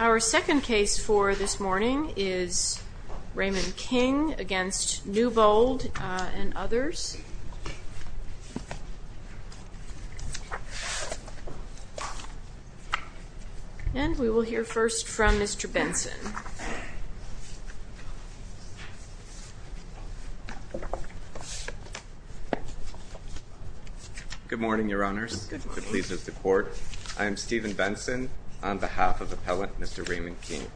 Our second case for this morning is Raymond King v. Newbold and others. We will hear first from Mr. Benson. Steven M. Newbold Good morning, Your Honors. It pleases the Court. I am Steven Benson on behalf of Appellant Mr. Raymond King.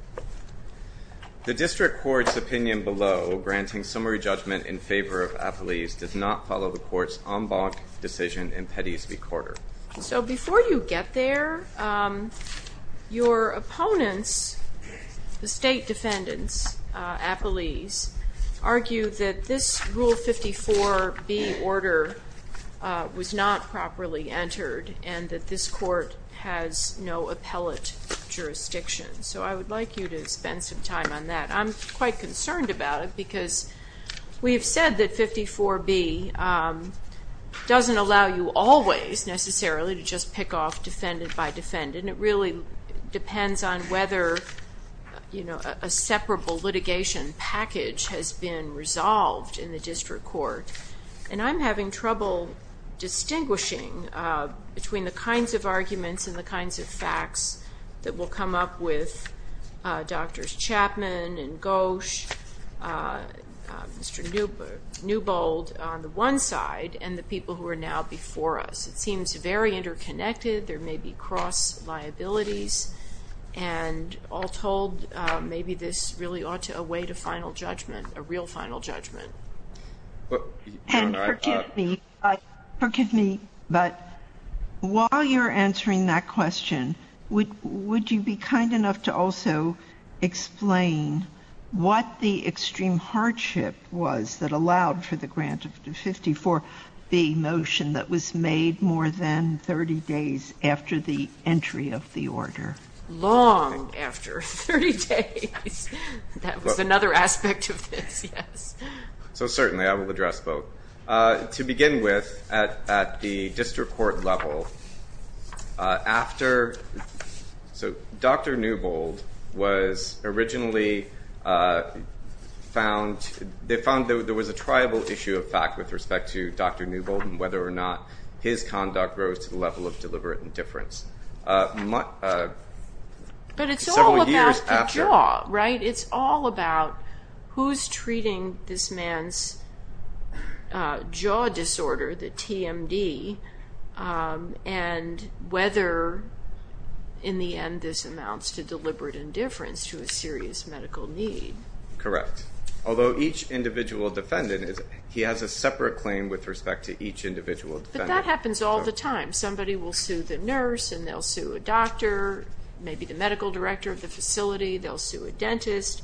The District Court's opinion below, granting summary judgment in favor of Appellees, does not follow the Court's en banc decision in Pettys v. Corder. So before you get there, your opponents, the state defendants, Appellees, argue that this Rule 54B order was not properly entered and that this Court has no appellate jurisdiction. So I would like you to spend some time on that. I'm quite concerned about it because we have said that 54B doesn't allow you always necessarily to just pick off defendant by defendant. It really depends on whether a separable litigation package has been resolved in the District Court. And I'm having trouble distinguishing between the kinds of arguments and the kinds of facts that will come up with Drs. Chapman and Gauche, Mr. Newbold on the one side, and the people who are now before us. It seems very interconnected. There may be cross liabilities. And all told, maybe this really ought to await a final judgment, a real final judgment. And forgive me, but while you're answering that question, would you be kind enough to also explain what the extreme hardship was that allowed for the grant of 54B motion that was made more than 30 days after the entry of the order? Long after 30 days. That was another aspect of this, yes. So certainly I will address both. To begin with, at the District Court level, after – so Dr. Newbold was originally found – they found there was a tribal issue of fact with respect to Dr. Newbold and whether or not his conduct rose to the level of deliberate indifference. But it's all about the jaw, right? It's all about who's treating this man's jaw disorder, the TMD, and whether in the end this amounts to deliberate indifference to a serious medical need. Correct. Although each individual defendant – he has a separate claim with respect to each individual defendant. But that happens all the time. Somebody will sue the nurse and they'll sue a doctor, maybe the medical director of the facility, they'll sue a dentist.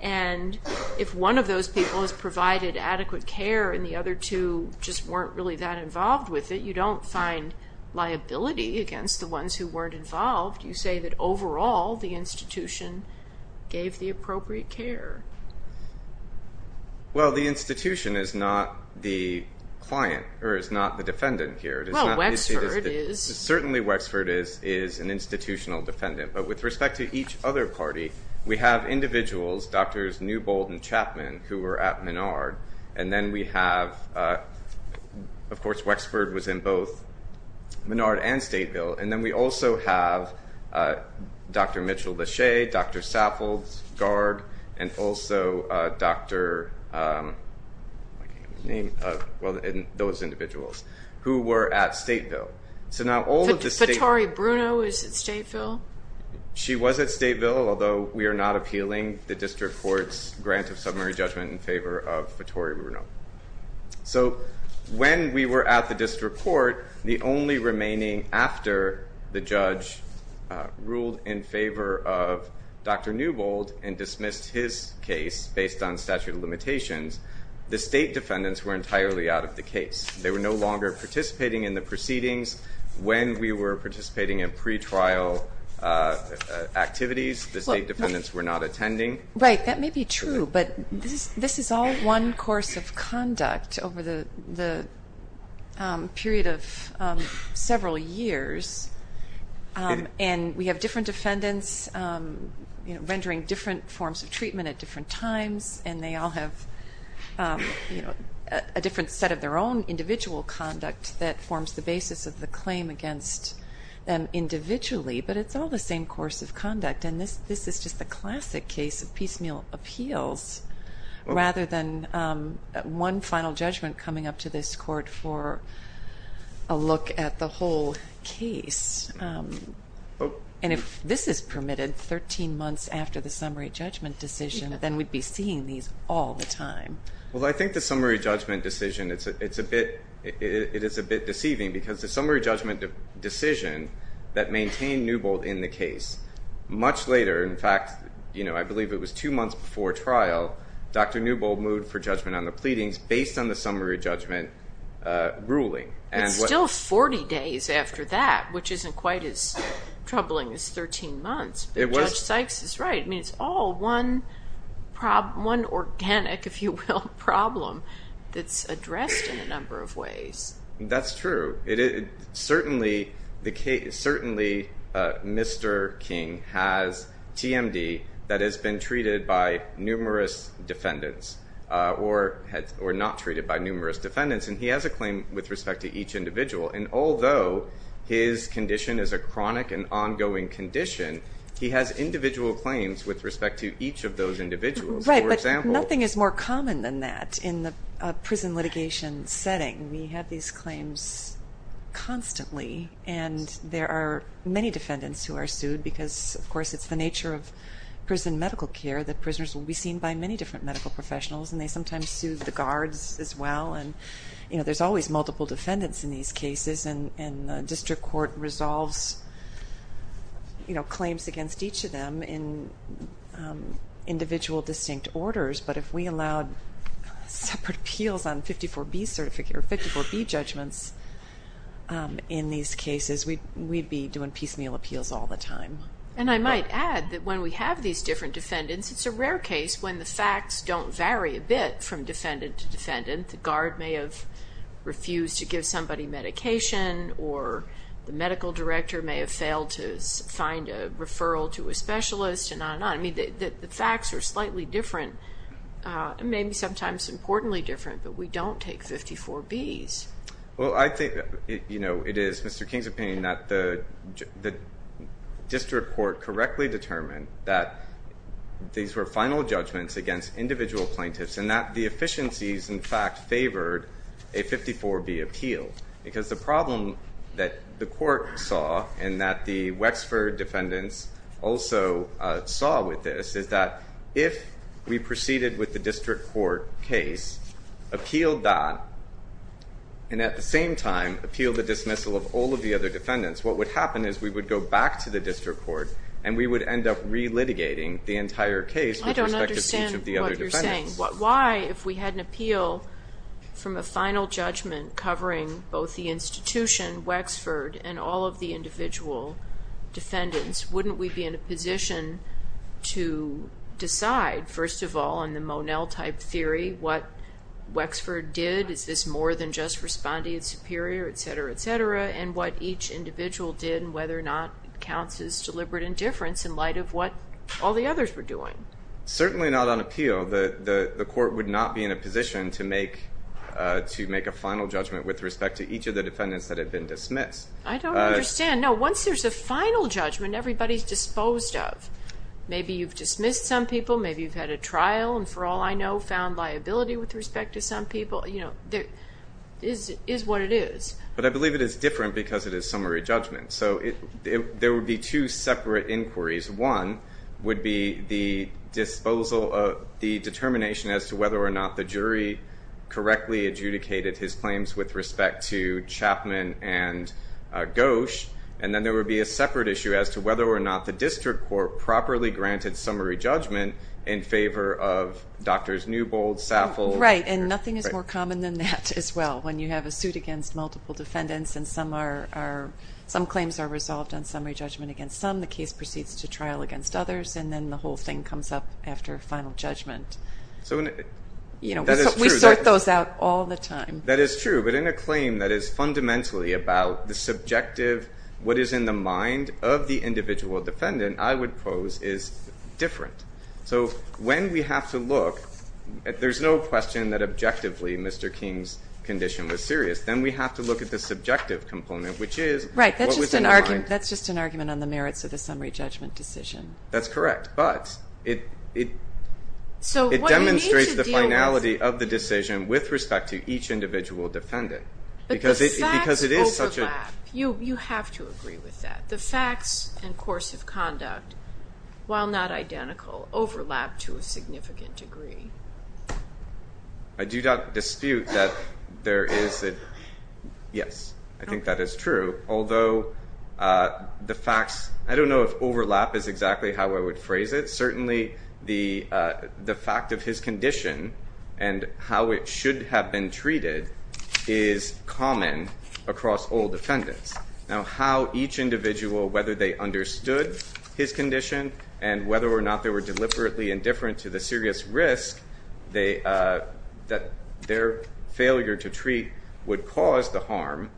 And if one of those people has provided adequate care and the other two just weren't really that involved with it, you don't find liability against the ones who weren't involved. You say that overall the institution gave the appropriate care. Well, the institution is not the client or is not the defendant here. Well, Wexford is. Certainly Wexford is an institutional defendant. But with respect to each other party, we have individuals, Drs. Newbold and Chapman, who were at Menard and then we have – of course, Wexford was in both Menard and Stateville. And then we also have Dr. Mitchell Lachey, Dr. Saffold, Garg, and also Dr. – I can't remember his name – well, those individuals who were at Stateville. So now all of the – Fitori Bruno is at Stateville? She was at Stateville, although we are not appealing the district court's grant of summary judgment in favor of Fitori Bruno. So when we were at the district court, the only remaining after the judge ruled in favor of Dr. Newbold and dismissed his case based on statute of limitations, the state defendants were entirely out of the case. They were no longer participating in the proceedings. When we were participating in pretrial activities, the state defendants were not attending. Right, that may be true, but this is all one course of conduct over the period of several years, and we have different defendants rendering different forms of treatment at different times, and they all have a different set of their own individual conduct that forms the basis of the claim against them individually, but it's all the same course of conduct. And this is just the classic case of piecemeal appeals rather than one final judgment coming up to this court for a look at the whole case. And if this is permitted 13 months after the summary judgment decision, then we'd be seeing these all the time. Well, I think the summary judgment decision, it is a bit deceiving because the summary judgment decision that maintained Newbold in the case, much later, in fact, I believe it was two months before trial, Dr. Newbold moved for judgment on the pleadings based on the summary judgment ruling. It's still 40 days after that, which isn't quite as troubling as 13 months. Judge Sykes is right. I mean, it's all one organic, if you will, problem that's addressed in a number of ways. That's true. Certainly, Mr. King has TMD that has been treated by numerous defendants or not treated by numerous defendants, and he has a claim with respect to each individual. And although his condition is a chronic and ongoing condition, he has individual claims with respect to each of those individuals. Right, but nothing is more common than that in the prison litigation setting. We have these claims constantly, and there are many defendants who are sued because, of course, it's the nature of prison medical care that prisoners will be seen by many different medical professionals, and they sometimes sue the guards as well. There's always multiple defendants in these cases, and district court resolves claims against each of them in individual distinct orders. But if we allowed separate appeals on 54B judgments in these cases, we'd be doing piecemeal appeals all the time. And I might add that when we have these different defendants, it's a rare case when the facts don't vary a bit from defendant to defendant. The guard may have refused to give somebody medication, or the medical director may have failed to find a referral to a specialist, and on and on. I mean, the facts are slightly different, maybe sometimes importantly different, but we don't take 54Bs. Well, I think it is Mr. King's opinion that the district court correctly determined that these were final judgments against individual plaintiffs, and that the efficiencies, in fact, favored a 54B appeal. Because the problem that the court saw, and that the Wexford defendants also saw with this, is that if we proceeded with the district court case, appealed that, and at the same time appealed the dismissal of all of the other defendants, what would happen is we would go back to the district court, and we would end up re-litigating the entire case with respect to each of the other defendants. Why, if we had an appeal from a final judgment covering both the institution, Wexford, and all of the individual defendants, wouldn't we be in a position to decide, first of all, in the Monell-type theory, what Wexford did? Is this more than just respondee and superior, et cetera, et cetera, and what each individual did, and whether or not it counts as deliberate indifference in light of what all the others were doing? Certainly not on appeal. The court would not be in a position to make a final judgment with respect to each of the defendants that had been dismissed. I don't understand. No, once there's a final judgment, everybody's disposed of. Maybe you've dismissed some people, maybe you've had a trial, and for all I know, found liability with respect to some people. It is what it is. But I believe it is different because it is summary judgment. So there would be two separate inquiries. One would be the determination as to whether or not the jury correctly adjudicated his claims with respect to Chapman and Ghosh, and then there would be a separate issue as to whether or not the district court properly granted summary judgment in favor of Drs. Newbold, Saffold. Right, and nothing is more common than that as well. When you have a suit against multiple defendants and some claims are resolved on summary judgment against some, the case proceeds to trial against others, and then the whole thing comes up after a final judgment. We sort those out all the time. That is true. But in a claim that is fundamentally about the subjective, what is in the mind of the individual defendant, I would pose is different. So when we have to look, there's no question that objectively Mr. King's condition was serious. Then we have to look at the subjective component, which is what was in the mind. Right, that's just an argument on the merits of the summary judgment decision. That's correct. But it demonstrates the finality of the decision with respect to each individual defendant. But the facts overlap. You have to agree with that. The facts and course of conduct, while not identical, overlap to a significant degree. I do not dispute that there is a yes. I think that is true. Although the facts, I don't know if overlap is exactly how I would phrase it. Certainly the fact of his condition and how it should have been treated is common across all defendants. Now how each individual, whether they understood his condition and whether or not they were deliberately indifferent to the serious risk that their failure to treat would cause the harm,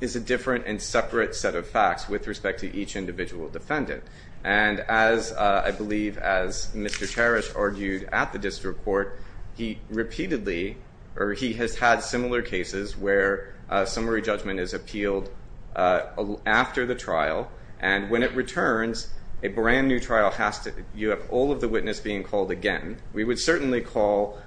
is a different and separate set of facts with respect to each individual defendant. And as I believe as Mr. Teresh argued at the district court, he has had similar cases where summary judgment is appealed after the trial. And when it returns, a brand new trial, you have all of the witnesses being called again. We would certainly call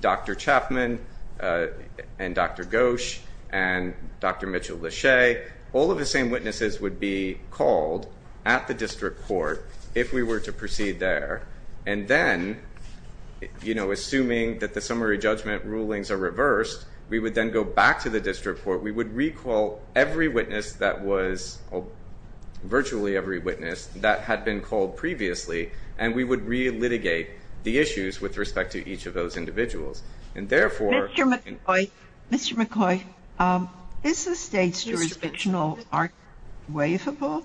Dr. Chapman and Dr. Gosch and Dr. Mitchell-Lachey. All of the same witnesses would be called at the district court if we were to proceed there. And then, assuming that the summary judgment rulings are reversed, we would then go back to the district court. We would recall every witness that was, virtually every witness that had been called previously, and we would re-litigate the issues with respect to each of those individuals. And therefore... Mr. McCoy, is the state's jurisdictional argument waivable,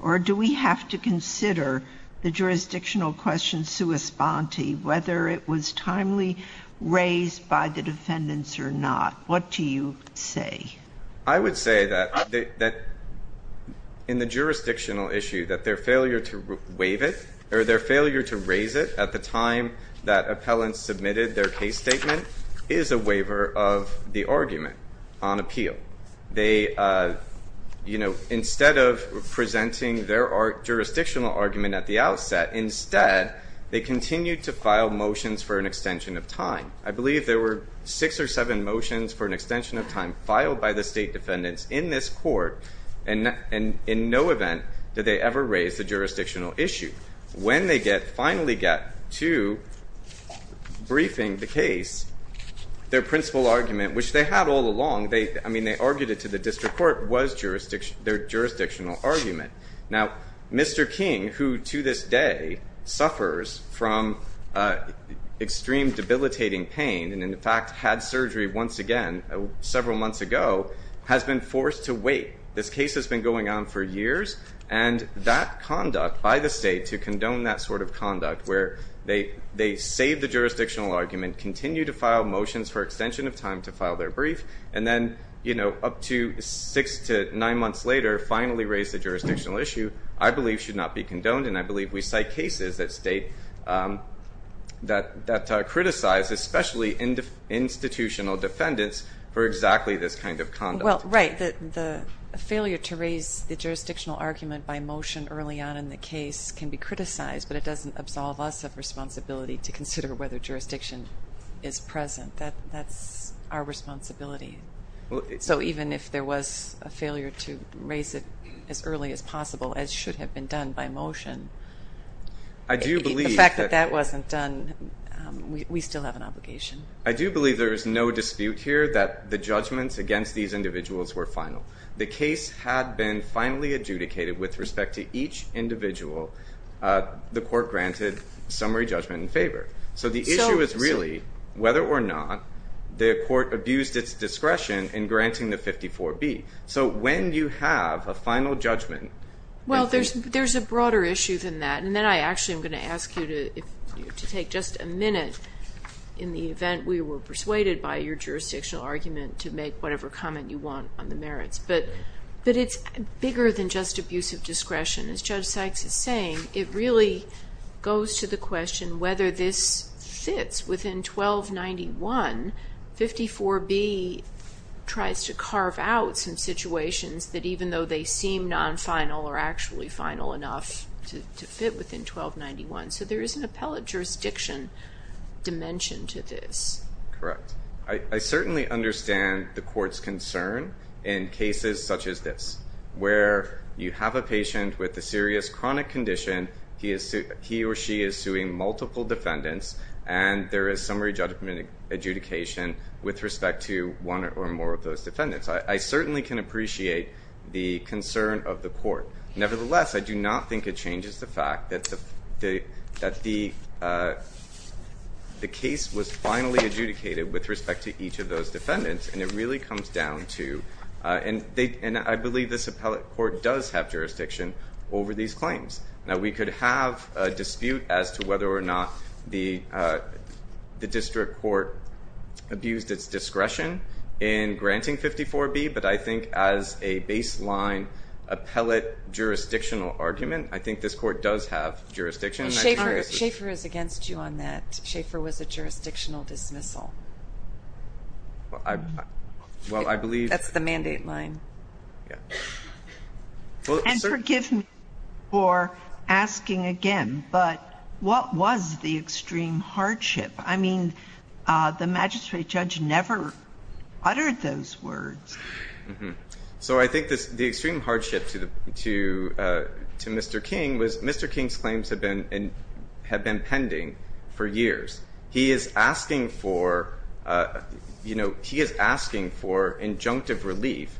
or do we have to consider the jurisdictional question sui sponte, whether it was timely raised by the defendants or not? What do you say? I would say that in the jurisdictional issue, that their failure to waive it, or their failure to raise it at the time that appellants submitted their case statement, is a waiver of the argument on appeal. They, you know, instead of presenting their jurisdictional argument at the outset, instead, they continued to file motions for an extension of time. I believe there were six or seven motions for an extension of time filed by the state defendants in this court, and in no event did they ever raise the jurisdictional issue. When they finally get to briefing the case, their principal argument, which they had all along, I mean, they argued it to the district court, was their jurisdictional argument. Now, Mr. King, who to this day suffers from extreme debilitating pain, and, in fact, had surgery once again several months ago, has been forced to wait. This case has been going on for years, and that conduct by the state to condone that sort of conduct, where they save the jurisdictional argument, continue to file motions for extension of time to file their brief, and then, you know, up to six to nine months later, finally raise the jurisdictional issue, I believe should not be condoned, and I believe we cite cases that criticize, especially institutional defendants, for exactly this kind of conduct. Well, right. The failure to raise the jurisdictional argument by motion early on in the case can be criticized, but it doesn't absolve us of responsibility to consider whether jurisdiction is present. That's our responsibility. So even if there was a failure to raise it as early as possible, as should have been done by motion, the fact that that wasn't done, we still have an obligation. I do believe there is no dispute here that the judgments against these individuals were final. The case had been finally adjudicated with respect to each individual the court granted summary judgment in favor. So the issue is really whether or not the court abused its discretion in granting the 54B. So when you have a final judgment. Well, there's a broader issue than that, and then I actually am going to ask you to take just a minute, in the event we were persuaded by your jurisdictional argument, to make whatever comment you want on the merits. As Judge Sykes is saying, it really goes to the question whether this fits within 1291. 54B tries to carve out some situations that even though they seem non-final are actually final enough to fit within 1291. So there is an appellate jurisdiction dimension to this. Correct. I certainly understand the court's concern in cases such as this, where you have a patient with a serious chronic condition, he or she is suing multiple defendants, and there is summary judgment adjudication with respect to one or more of those defendants. I certainly can appreciate the concern of the court. Nevertheless, I do not think it changes the fact that the case was finally adjudicated with respect to each of those defendants, and it really comes down to, and I believe this appellate court does have jurisdiction over these claims. Now, we could have a dispute as to whether or not the district court abused its discretion in granting 54B, but I think as a baseline appellate jurisdictional argument, I think this court does have jurisdiction. Schaefer is against you on that. Schaefer was a jurisdictional dismissal. That's the mandate line. And forgive me for asking again, but what was the extreme hardship? I mean, the magistrate judge never uttered those words. So I think the extreme hardship to Mr. King was Mr. King's claims have been pending for years. He is asking for, you know, he is asking for injunctive relief.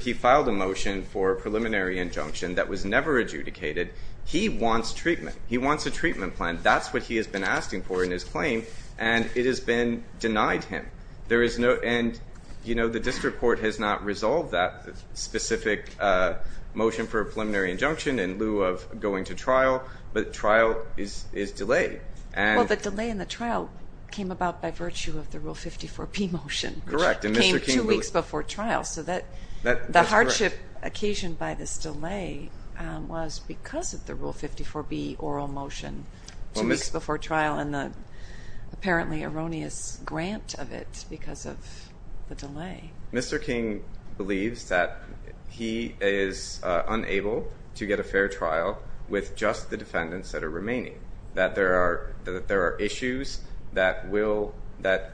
He filed a motion for preliminary injunction that was never adjudicated. He wants treatment. He wants a treatment plan. That's what he has been asking for in his claim, and it has been denied him. And, you know, the district court has not resolved that specific motion for a preliminary injunction in lieu of going to trial, but trial is delayed. Well, the delay in the trial came about by virtue of the Rule 54B motion. Correct. It came two weeks before trial. So the hardship occasioned by this delay was because of the Rule 54B oral motion two weeks before trial and the apparently erroneous grant of it because of the delay. Mr. King believes that he is unable to get a fair trial with just the defendants that are remaining, that there are issues that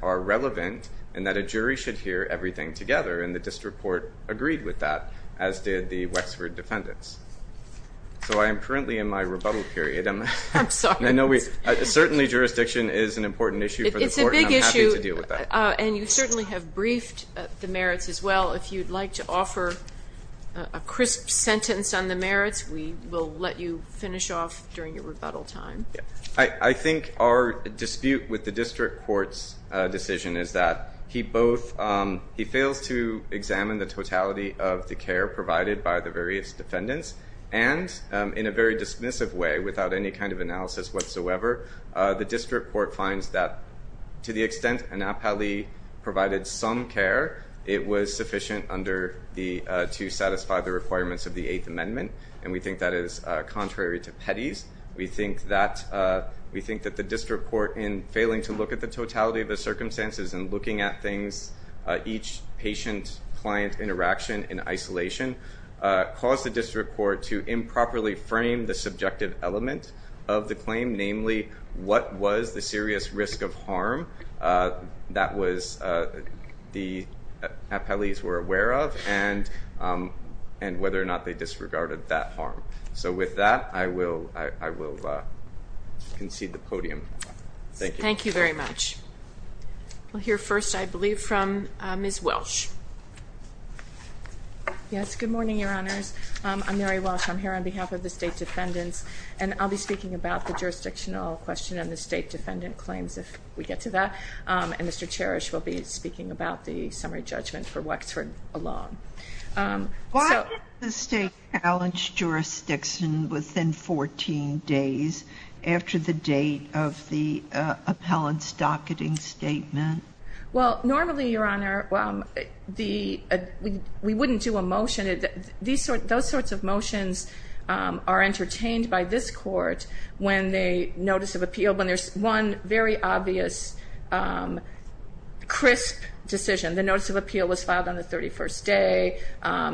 are relevant and that a jury should hear everything together, and the district court agreed with that, as did the Wexford defendants. So I am currently in my rebuttal period. I'm sorry. Certainly jurisdiction is an important issue for the court, and I'm happy to deal with that. It's a big issue, and you certainly have briefed the merits as well. If you'd like to offer a crisp sentence on the merits, we will let you finish off during your rebuttal time. I think our dispute with the district court's decision is that he both fails to examine the totality of the care provided by the various defendants, and in a very dismissive way, without any kind of analysis whatsoever, the district court finds that to the extent an appellee provided some care, it was sufficient to satisfy the requirements of the Eighth Amendment, and we think that is contrary to Petty's. We think that the district court, in failing to look at the totality of the circumstances and looking at each patient-client interaction in isolation, caused the district court to improperly frame the subjective element of the claim, namely what was the serious risk of harm that the appellees were aware of and whether or not they disregarded that harm. So with that, I will concede the podium. Thank you. Thank you very much. We'll hear first, I believe, from Ms. Welsh. Yes, good morning, Your Honors. I'm Mary Welsh. I'm here on behalf of the state defendants, and I'll be speaking about the jurisdictional question and the state defendant claims if we get to that, and Mr. Cherish will be speaking about the summary judgment for Wexford alone. Why did the state challenge jurisdiction within 14 days after the date of the appellant's docketing statement? Well, normally, Your Honor, we wouldn't do a motion. Those sorts of motions are entertained by this court when there's one very obvious, crisp decision. The notice of appeal was filed on the 31st day.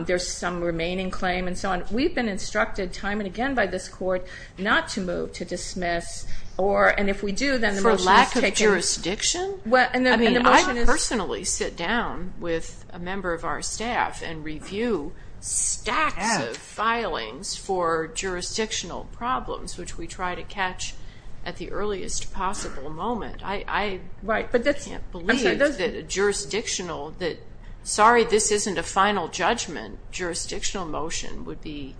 There's some remaining claim and so on. We've been instructed time and again by this court not to move, to dismiss, For lack of jurisdiction? I mean, I personally sit down with a member of our staff and review stacks of filings for jurisdictional problems, which we try to catch at the earliest possible moment. I can't believe that a jurisdictional, that, sorry, this isn't a final judgment, jurisdictional motion would be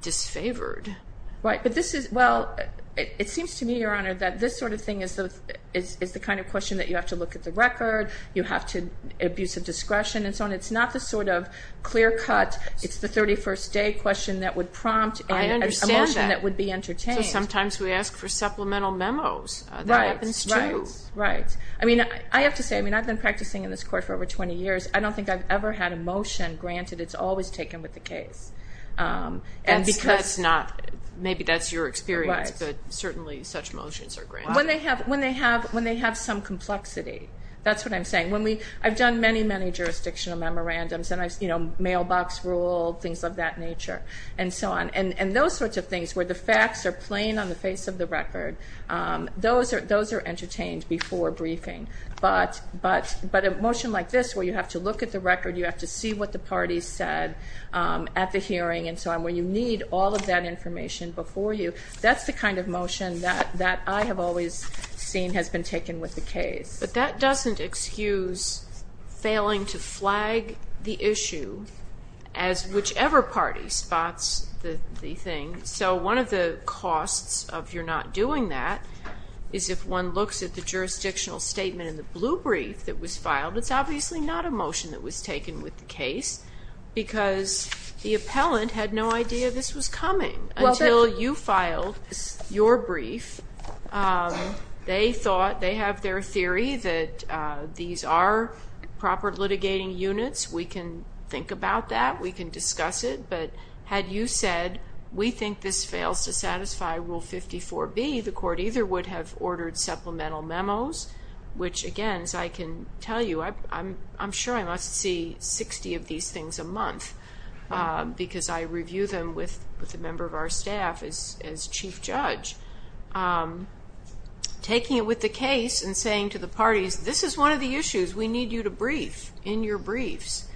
disfavored. Right, but this is, well, it seems to me, Your Honor, that this sort of thing is the kind of question that you have to look at the record, you have to abuse of discretion and so on. It's not the sort of clear cut, it's the 31st day question that would prompt a motion that would be entertained. I understand that. So sometimes we ask for supplemental memos. Right, right, right. I mean, I have to say, I mean, I've been practicing in this court for over 20 years. I don't think I've ever had a motion, granted it's always taken with the case. That's not, maybe that's your experience, but certainly such motions are granted. When they have some complexity, that's what I'm saying. I've done many, many jurisdictional memorandums, and I've, you know, mailbox rule, things of that nature, and so on. And those sorts of things where the facts are plain on the face of the record, those are entertained before briefing. But a motion like this where you have to look at the record, you have to see what the parties said at the hearing and so on, where you need all of that information before you, that's the kind of motion that I have always seen has been taken with the case. But that doesn't excuse failing to flag the issue as whichever party spots the thing. So one of the costs of your not doing that is if one looks at the jurisdictional statement in the blue brief that was filed, it's obviously not a motion that was taken with the case, because the appellant had no idea this was coming. Until you filed your brief, they thought, they have their theory that these are proper litigating units. We can think about that. We can discuss it. But had you said, we think this fails to satisfy Rule 54B, the court either would have ordered supplemental memos, which, again, as I can tell you, I'm sure I must see 60 of these things a month, because I review them with a member of our staff as chief judge. Taking it with the case and saying to the parties, this is one of the issues, we need you to brief in your briefs,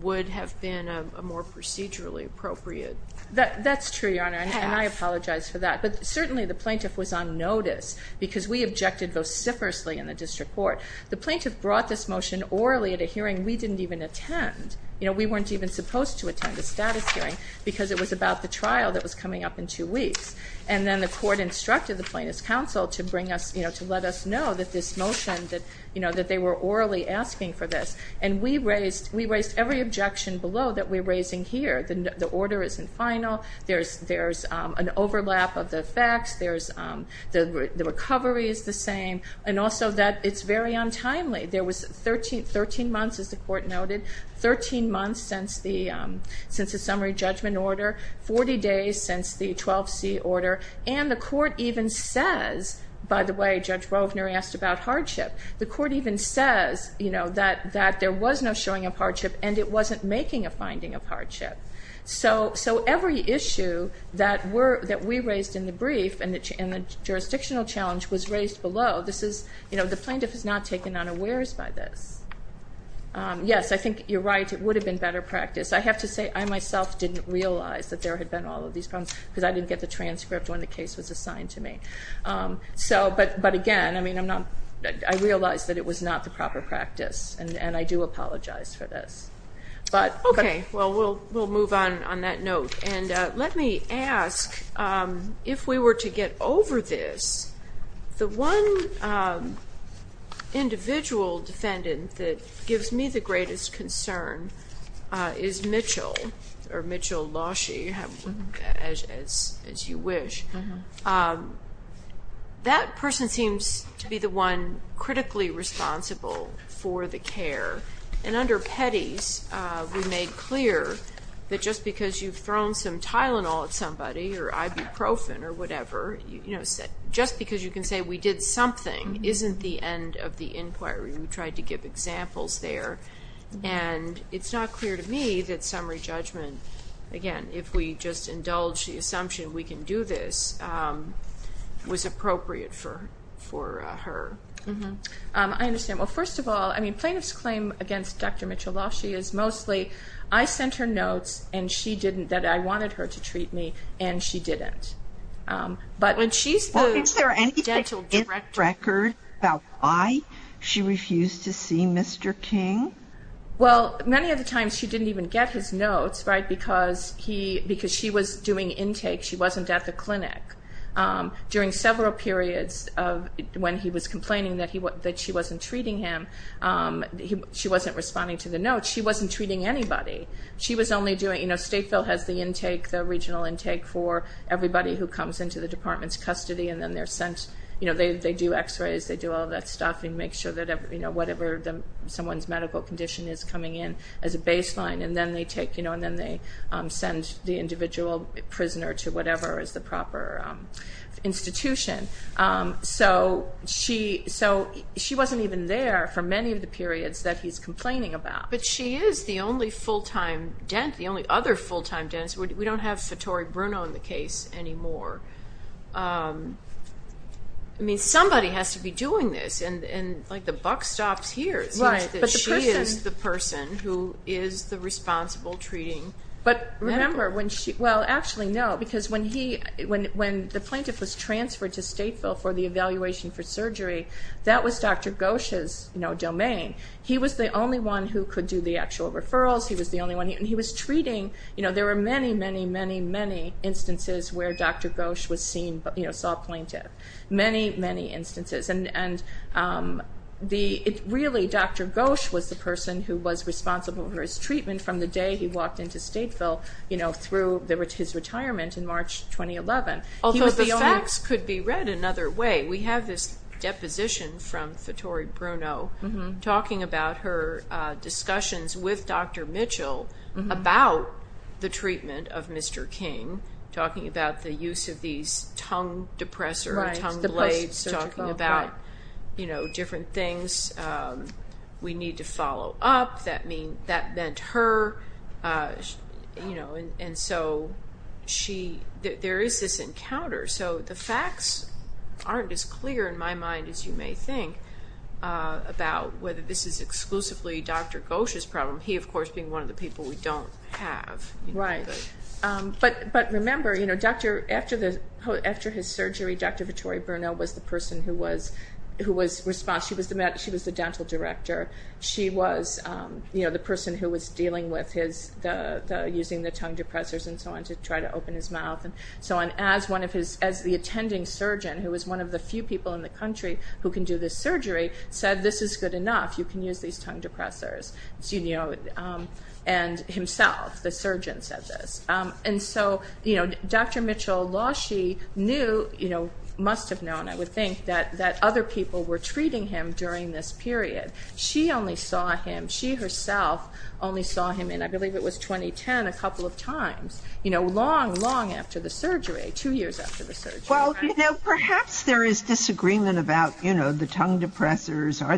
would have been a more procedurally appropriate. That's true, Your Honor, and I apologize for that. But certainly the plaintiff was on notice, because we objected vociferously in the district court. The plaintiff brought this motion orally at a hearing we didn't even attend. We weren't even supposed to attend a status hearing, because it was about the trial that was coming up in two weeks. And then the court instructed the plaintiff's counsel to let us know that this motion, that they were orally asking for this. And we raised every objection below that we're raising here. The order isn't final. There's an overlap of the facts. The recovery is the same. And also that it's very untimely. There was 13 months, as the court noted, 13 months since the summary judgment order, 40 days since the 12C order. And the court even says, by the way, Judge Wovner asked about hardship. The court even says that there was no showing of hardship and it wasn't making a finding of hardship. So every issue that we raised in the brief and the jurisdictional challenge was raised below. The plaintiff is not taken unawares by this. Yes, I think you're right. It would have been better practice. I have to say I myself didn't realize that there had been all of these problems, because I didn't get the transcript when the case was assigned to me. But, again, I realize that it was not the proper practice, and I do apologize for this. Okay. Well, we'll move on on that note. And let me ask, if we were to get over this, the one individual defendant that gives me the greatest concern is Mitchell, or Mitchell Lausche, as you wish. That person seems to be the one critically responsible for the care. And under petties, we made clear that just because you've thrown some Tylenol at somebody or ibuprofen or whatever, just because you can say we did something isn't the end of the inquiry. We tried to give examples there. And it's not clear to me that summary judgment, again, if we just indulge the assumption we can do this, was appropriate for her. I understand. Well, first of all, I mean, plaintiff's claim against Dr. Mitchell Lausche is mostly, I sent her notes that I wanted her to treat me, and she didn't. But when she's the dental director... Well, is there anything in the record about why she refused to see Mr. King? Well, many of the times she didn't even get his notes, right, because she was doing intake. She wasn't at the clinic. During several periods when he was complaining that she wasn't treating him, she wasn't responding to the notes, she wasn't treating anybody. She was only doing, you know, Stateville has the intake, the regional intake for everybody who comes into the department's custody, and then they're sent, you know, they do x-rays, they do all that stuff, and make sure that whatever someone's medical condition is coming in as a baseline, and then they take, you know, and then they send the individual prisoner to whatever is the proper institution. So she wasn't even there for many of the periods that he's complaining about. But she is the only full-time dentist, the only other full-time dentist. We don't have Fittori Bruno in the case anymore. I mean, somebody has to be doing this, and, like, the buck stops here. It seems that she is the person who is the responsible treating medical. But remember, when she – well, actually, no, because when he – when the plaintiff was transferred to Stateville for the evaluation for surgery, that was Dr. Gosch's domain. He was the only one who could do the actual referrals. He was the only one – and he was treating – you know, there were many, many, many, many instances where Dr. Gosch was seen, you know, saw a plaintiff. Many, many instances. And really, Dr. Gosch was the person who was responsible for his treatment from the day he walked into Stateville, you know, through his retirement in March 2011. Although the facts could be read another way. We have this deposition from Fittori Bruno talking about her discussions with Dr. Mitchell about the treatment of Mr. King, talking about the use of these tongue depressors, tongue blades, talking about, you know, different things. We need to follow up. That meant her, you know, and so she – there is this encounter. So the facts aren't as clear in my mind as you may think about whether this is exclusively Dr. Gosch's problem, he, of course, being one of the people we don't have. Right. But remember, you know, Dr. – after his surgery, Dr. Fittori Bruno was the person who was responsible. She was the dental director. She was, you know, the person who was dealing with his – using the tongue depressors and so on to try to open his mouth and so on. As one of his – as the attending surgeon, who was one of the few people in the country who can do this surgery, said this is good enough. You can use these tongue depressors. And himself, the surgeon, said this. And so, you know, Dr. Mitchell, while she knew, you know, must have known, I would think, that other people were treating him during this period, she only saw him – she herself only saw him in, I believe it was 2010, a couple of times, you know, long, long after the surgery, two years after the surgery. Are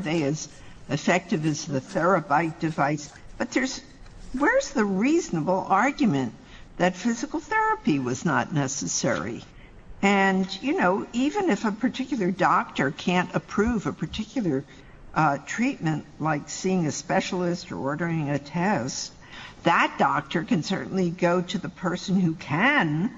they as effective as the therabyte device? But there's – where's the reasonable argument that physical therapy was not necessary? And, you know, even if a particular doctor can't approve a particular treatment, like seeing a specialist or ordering a test, that doctor can certainly go to the person who can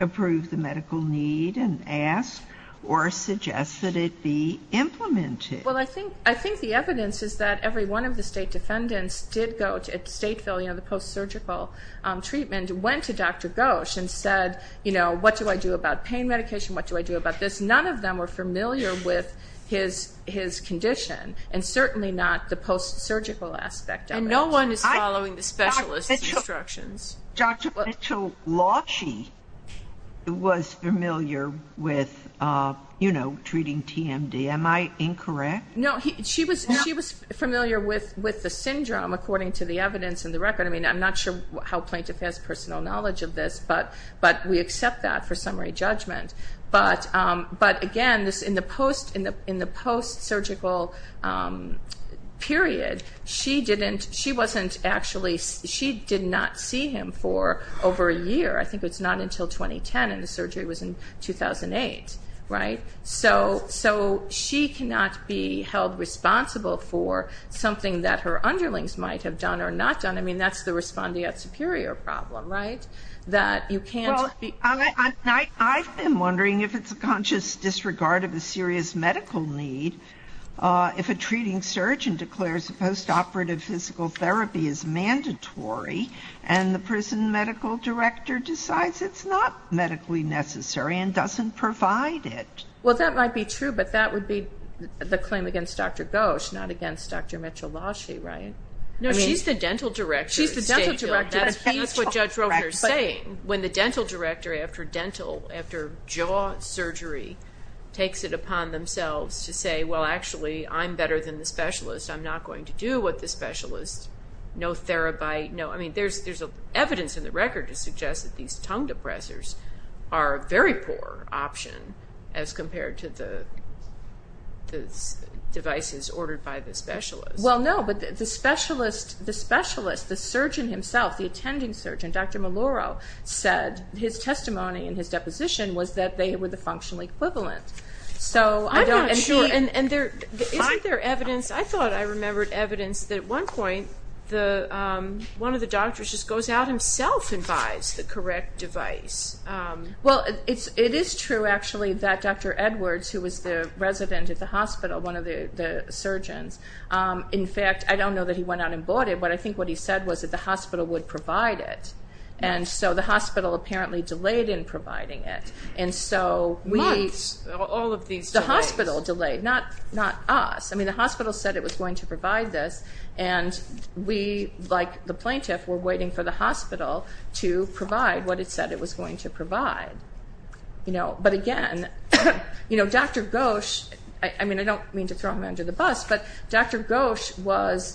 approve the medical need and ask or suggest that it be implemented. Well, I think the evidence is that every one of the state defendants did go – at Stateville, you know, the post-surgical treatment, went to Dr. Gosch and said, you know, what do I do about pain medication? What do I do about this? None of them were familiar with his condition, and certainly not the post-surgical aspect of it. And no one is following the specialist's instructions. Dr. Mitchell-Loshi was familiar with, you know, treating TMD. Am I incorrect? No, she was familiar with the syndrome, according to the evidence in the record. I mean, I'm not sure how plaintiff has personal knowledge of this, but we accept that for summary judgment. But, again, in the post-surgical period, she didn't – I think it's not until 2010, and the surgery was in 2008, right? So she cannot be held responsible for something that her underlings might have done or not done. I mean, that's the respondeat superior problem, right, that you can't be – Well, I've been wondering if it's a conscious disregard of a serious medical need if a treating surgeon declares post-operative physical therapy is mandatory and the prison medical director decides it's not medically necessary and doesn't provide it. Well, that might be true, but that would be the claim against Dr. Ghosh, not against Dr. Mitchell-Loshi, right? No, she's the dental director. She's the dental director. That's what Judge Roper is saying. When the dental director, after dental, after jaw surgery, takes it upon themselves to say, well, actually, I'm better than the specialist, I'm not going to do what the specialist, no therabyte, no – I mean, there's evidence in the record to suggest that these tongue depressors are a very poor option as compared to the devices ordered by the specialist. Well, no, but the specialist, the surgeon himself, the attending surgeon, Dr. Maloro, said his testimony in his deposition was that they were the functional equivalent. I'm not sure. Isn't there evidence? I thought I remembered evidence that at one point one of the doctors just goes out himself and buys the correct device. Well, it is true, actually, that Dr. Edwards, who was the resident at the hospital, one of the surgeons, in fact, I don't know that he went out and bought it, but I think what he said was that the hospital would provide it, and so the hospital apparently delayed in providing it. Months, all of these delays. The hospital delayed, not us. I mean, the hospital said it was going to provide this, and we, like the plaintiff, were waiting for the hospital to provide what it said it was going to provide. But again, Dr. Gosch, I mean, I don't mean to throw him under the bus, but Dr. Gosch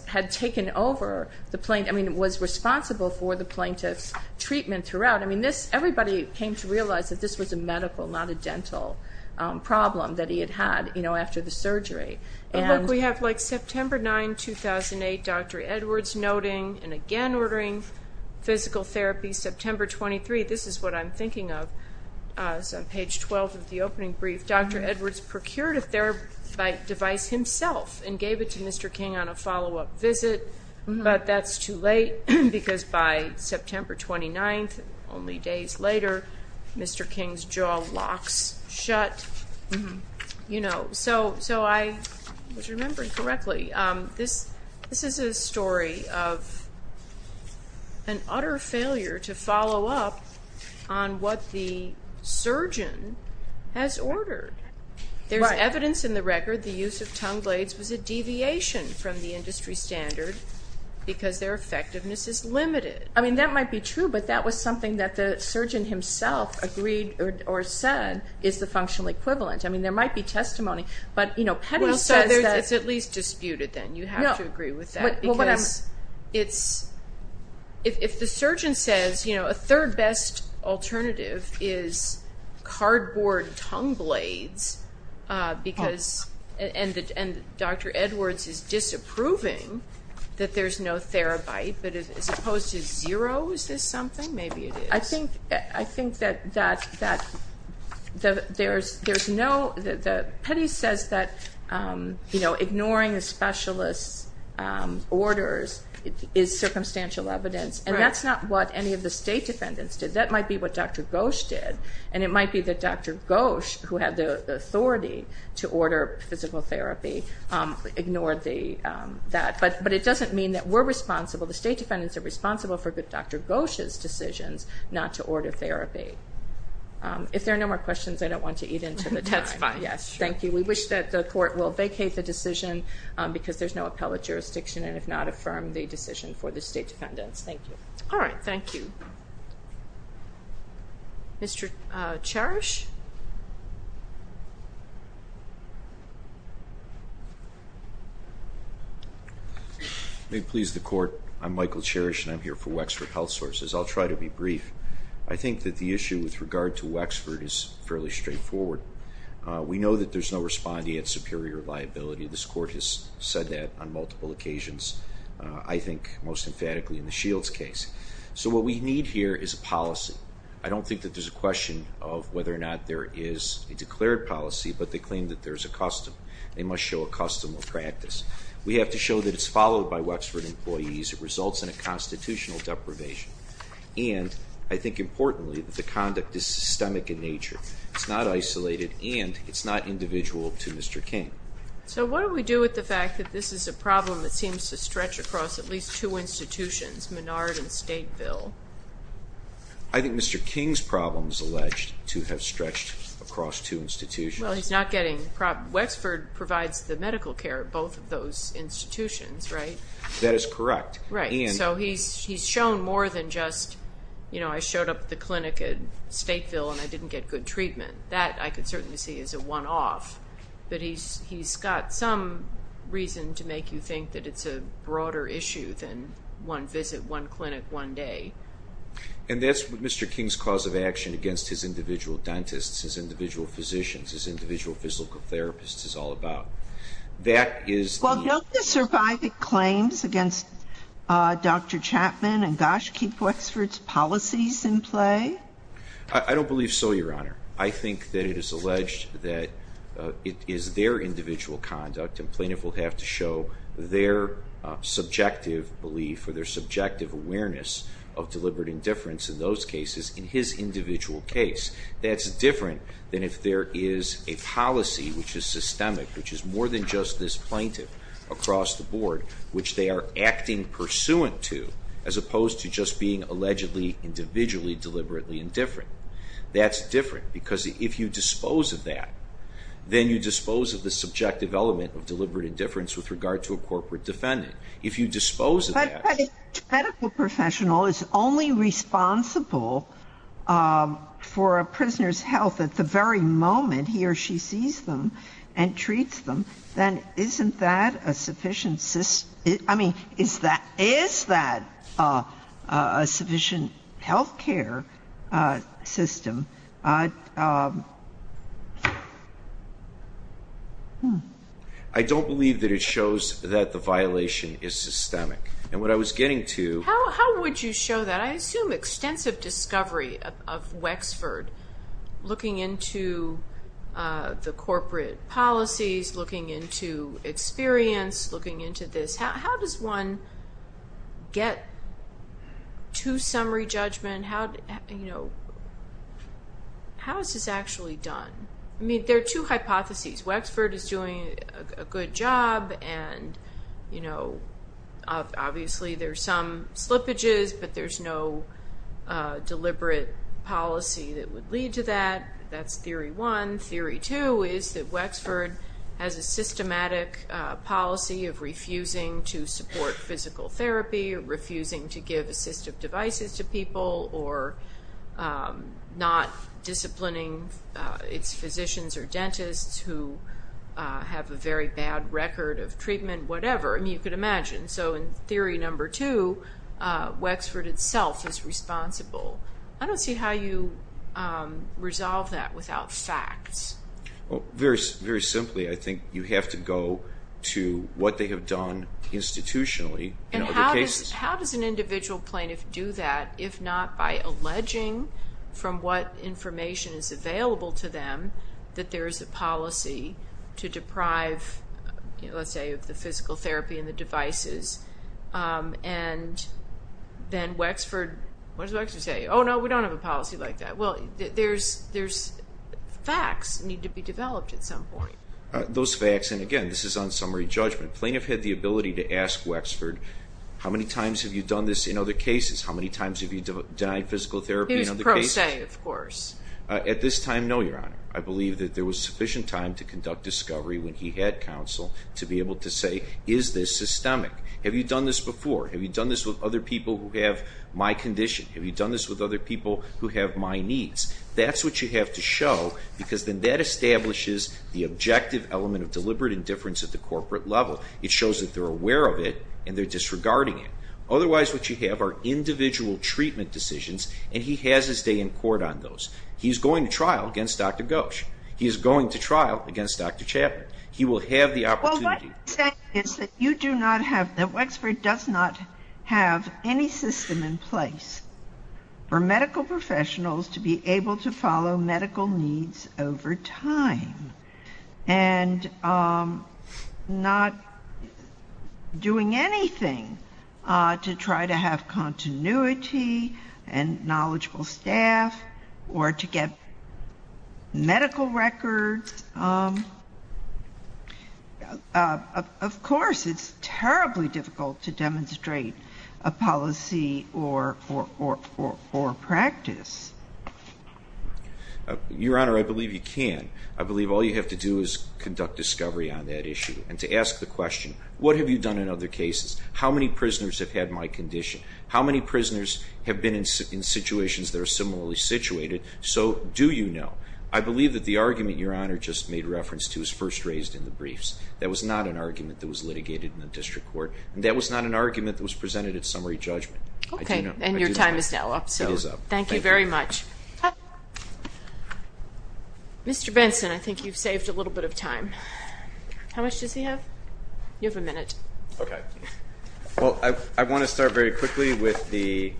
had taken over the plaintiff – I mean, was responsible for the plaintiff's treatment throughout. I mean, everybody came to realize that this was a medical, not a dental problem that he had had after the surgery. But look, we have, like, September 9, 2008, Dr. Edwards noting and again ordering physical therapy. September 23, this is what I'm thinking of. It's on page 12 of the opening brief. Dr. Edwards procured a therapeutic device himself and gave it to Mr. King on a follow-up visit, but that's too late because by September 29, only days later, Mr. King's jaw locks shut, you know. So I was remembering correctly. This is a story of an utter failure to follow up on what the surgeon has ordered. There's evidence in the record the use of tongue blades was a deviation from the industry standard because their effectiveness is limited. I mean, that might be true, but that was something that the surgeon himself agreed or said is the functional equivalent. I mean, there might be testimony, but, you know, Petty says that – Well, so it's at least disputed then. You have to agree with that because it's – if the surgeon says, you know, a third best alternative is cardboard tongue blades because – and Dr. Edwards is disapproving that there's no therabyte, but as opposed to zero, is this something? Maybe it is. I think that there's no – Petty says that, you know, ignoring a specialist's orders is circumstantial evidence, and that's not what any of the state defendants did. That might be what Dr. Gosch did, and it might be that Dr. Gosch, who had the authority to order physical therapy, ignored that, but it doesn't mean that we're responsible. The state defendants are responsible for Dr. Gosch's decisions not to order therapy. If there are no more questions, I don't want to eat into the time. That's fine. Yes, thank you. We wish that the court will vacate the decision because there's no appellate jurisdiction and have not affirmed the decision for the state defendants. Thank you. All right. Thank you. Mr. Cherish? May it please the court, I'm Michael Cherish, and I'm here for Wexford Health Sources. I'll try to be brief. I think that the issue with regard to Wexford is fairly straightforward. We know that there's no respondee at superior liability. This court has said that on multiple occasions, I think most emphatically in the Shields case. So what we need here is a policy. I don't think that there's a question of whether or not there is a declared policy, but they claim that there's a custom. They must show a custom or practice. We have to show that it's followed by Wexford employees. It results in a constitutional deprivation. And I think importantly that the conduct is systemic in nature. It's not isolated, and it's not individual to Mr. King. So what do we do with the fact that this is a problem that seems to stretch across at least two institutions, Menard and Stateville? I think Mr. King's problem is alleged to have stretched across two institutions. Well, he's not getting the problem. Wexford provides the medical care at both of those institutions, right? That is correct. Right, so he's shown more than just, you know, I showed up at the clinic at Stateville and I didn't get good treatment. That I could certainly see as a one-off. But he's got some reason to make you think that it's a broader issue than one visit, one clinic, one day. And that's what Mr. King's cause of action against his individual dentists, his individual physicians, his individual physical therapists is all about. Well, don't the surviving claims against Dr. Chapman and Gosch keep Wexford's policies in play? I don't believe so, Your Honor. I think that it is alleged that it is their individual conduct, and plaintiff will have to show their subjective belief or their subjective awareness of deliberate indifference in those cases in his individual case. That's different than if there is a policy which is systemic, which is more than just this plaintiff across the board, which they are acting pursuant to, as opposed to just being allegedly individually deliberately indifferent. That's different, because if you dispose of that, then you dispose of the subjective element of deliberate indifference with regard to a corporate defendant. If you dispose of that. But if a medical professional is only responsible for a prisoner's health at the very moment he or she sees them and treats them, then isn't that a sufficient system? I mean, is that a sufficient health care system? I don't believe that it shows that the violation is systemic. And what I was getting to. How would you show that? I assume extensive discovery of Wexford, looking into the corporate policies, looking into experience, looking into this. How does one get to summary judgment? How is this actually done? I mean, there are two hypotheses. Wexford is doing a good job, and obviously there are some slippages, but there's no deliberate policy that would lead to that. That's theory one. Theory two is that Wexford has a systematic policy of refusing to support physical therapy, refusing to give assistive devices to people, or not disciplining its physicians or dentists who have a very bad record of treatment, whatever. I mean, you could imagine. So in theory number two, Wexford itself is responsible. I don't see how you resolve that without facts. Very simply, I think you have to go to what they have done institutionally in other cases. How does an individual plaintiff do that if not by alleging from what information is available to them that there is a policy to deprive, let's say, of the physical therapy and the devices, and then Wexford, what does Wexford say? Oh, no, we don't have a policy like that. Well, there's facts that need to be developed at some point. Those facts, and again, this is on summary judgment. Plaintiff had the ability to ask Wexford, how many times have you done this in other cases? How many times have you denied physical therapy in other cases? He was pro se, of course. At this time, no, Your Honor. I believe that there was sufficient time to conduct discovery when he had counsel to be able to say, is this systemic? Have you done this before? Have you done this with other people who have my condition? Have you done this with other people who have my needs? That's what you have to show because then that establishes the objective element of deliberate indifference at the corporate level. It shows that they're aware of it and they're disregarding it. Otherwise, what you have are individual treatment decisions, and he has his day in court on those. He's going to trial against Dr. Ghosh. He is going to trial against Dr. Chapman. He will have the opportunity. What I'm saying is that you do not have, that Wexford does not have any system in place for medical professionals to be able to follow medical needs over time and not doing anything to try to have continuity and knowledgeable staff or to get medical records. Of course, it's terribly difficult to demonstrate a policy or practice. Your Honor, I believe you can. I believe all you have to do is conduct discovery on that issue and to ask the question, what have you done in other cases? How many prisoners have had my condition? How many prisoners have been in situations that are similarly situated? So do you know? I believe that the argument Your Honor just made reference to is first raised in the briefs. That was not an argument that was litigated in the district court, and that was not an argument that was presented at summary judgment. Okay, and your time is now up. It is up. Thank you very much. Mr. Benson, I think you've saved a little bit of time. How much does he have? You have a minute. Okay. Well, I want to start very quickly with the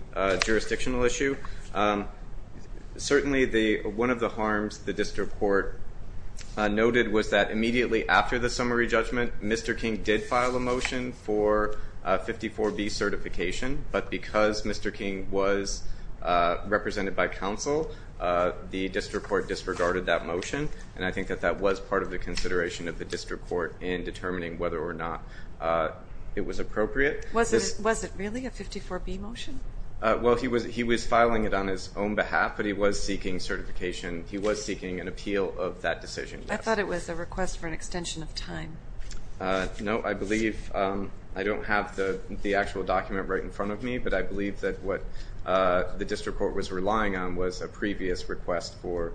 jurisdictional issue. Certainly one of the harms the district court noted was that immediately after the summary judgment, Mr. King did file a motion for 54B certification, but because Mr. King was represented by counsel, the district court disregarded that motion, and I think that that was part of the consideration of the district court in determining whether or not it was appropriate. Was it really a 54B motion? Well, he was filing it on his own behalf, but he was seeking certification. He was seeking an appeal of that decision. I thought it was a request for an extension of time. No, I believe I don't have the actual document right in front of me, but I believe that what the district court was relying on was a previous request for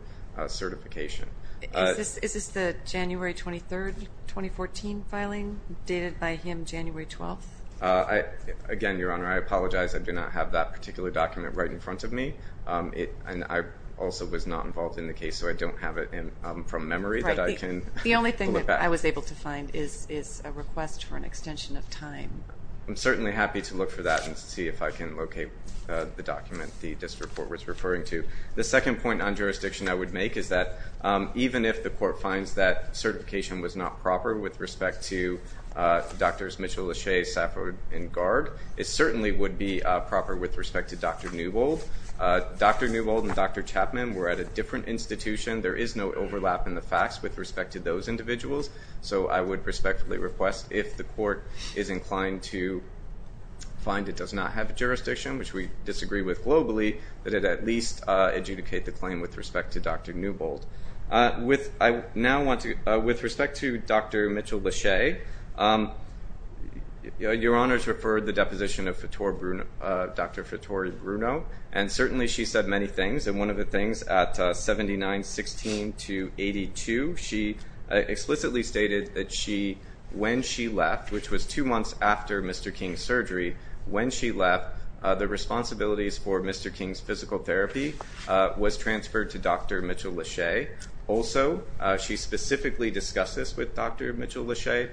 certification. Is this the January 23rd, 2014 filing dated by him January 12th? Again, Your Honor, I apologize. I do not have that particular document right in front of me, and I also was not involved in the case, so I don't have it from memory that I can pull it back. The only thing that I was able to find is a request for an extension of time. I'm certainly happy to look for that and see if I can locate the document the district court was referring to. The second point on jurisdiction I would make is that even if the court finds that certification was not proper with respect to Drs. Mitchell-Lachey, Safford, and Garg, it certainly would be proper with respect to Dr. Newbold. Dr. Newbold and Dr. Chapman were at a different institution. There is no overlap in the facts with respect to those individuals, so I would respectfully request if the court is inclined to find it does not have jurisdiction, which we disagree with globally, that it at least adjudicate the claim with respect to Dr. Newbold. With respect to Dr. Mitchell-Lachey, Your Honors referred the deposition of Dr. Fitori Bruno, and certainly she said many things, and one of the things at 79-16 to 82, she explicitly stated that when she left, which was two months after Mr. King's surgery, when she left, the responsibilities for Mr. King's physical therapy was transferred to Dr. Mitchell-Lachey. Also, she specifically discussed this with Dr. Mitchell-Lachey,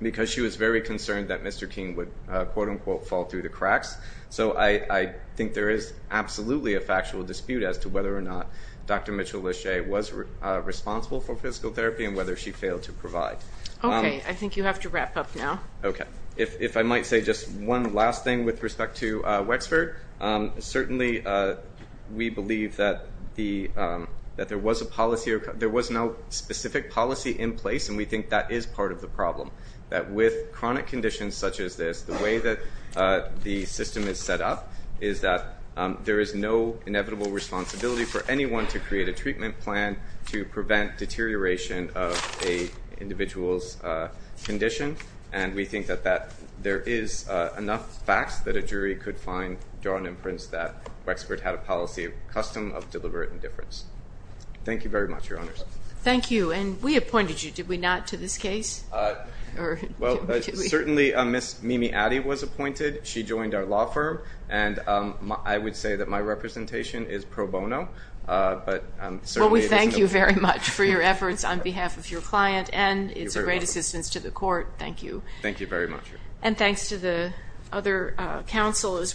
because she was very concerned that Mr. King would, quote-unquote, fall through the cracks. So I think there is absolutely a factual dispute as to whether or not Dr. Mitchell-Lachey was responsible for physical therapy and whether she failed to provide. Okay. I think you have to wrap up now. Okay. If I might say just one last thing with respect to Wexford, certainly we believe that there was a policy or there was no specific policy in place, and we think that is part of the problem, that with chronic conditions such as this, the way that the system is set up is that there is no inevitable responsibility for anyone to create a treatment plan to prevent deterioration of an individual's condition, and we think that there is enough facts that a jury could find, draw an inference, that Wexford had a policy of custom, of deliberate indifference. Thank you very much, Your Honors. Thank you. And we appointed you, did we not, to this case? Well, certainly Ms. Mimi Addy was appointed. She joined our law firm, and I would say that my representation is pro bono. Well, we thank you very much for your efforts on behalf of your client, and it's a great assistance to the court. Thank you. Thank you very much. And thanks to the other counsel as well.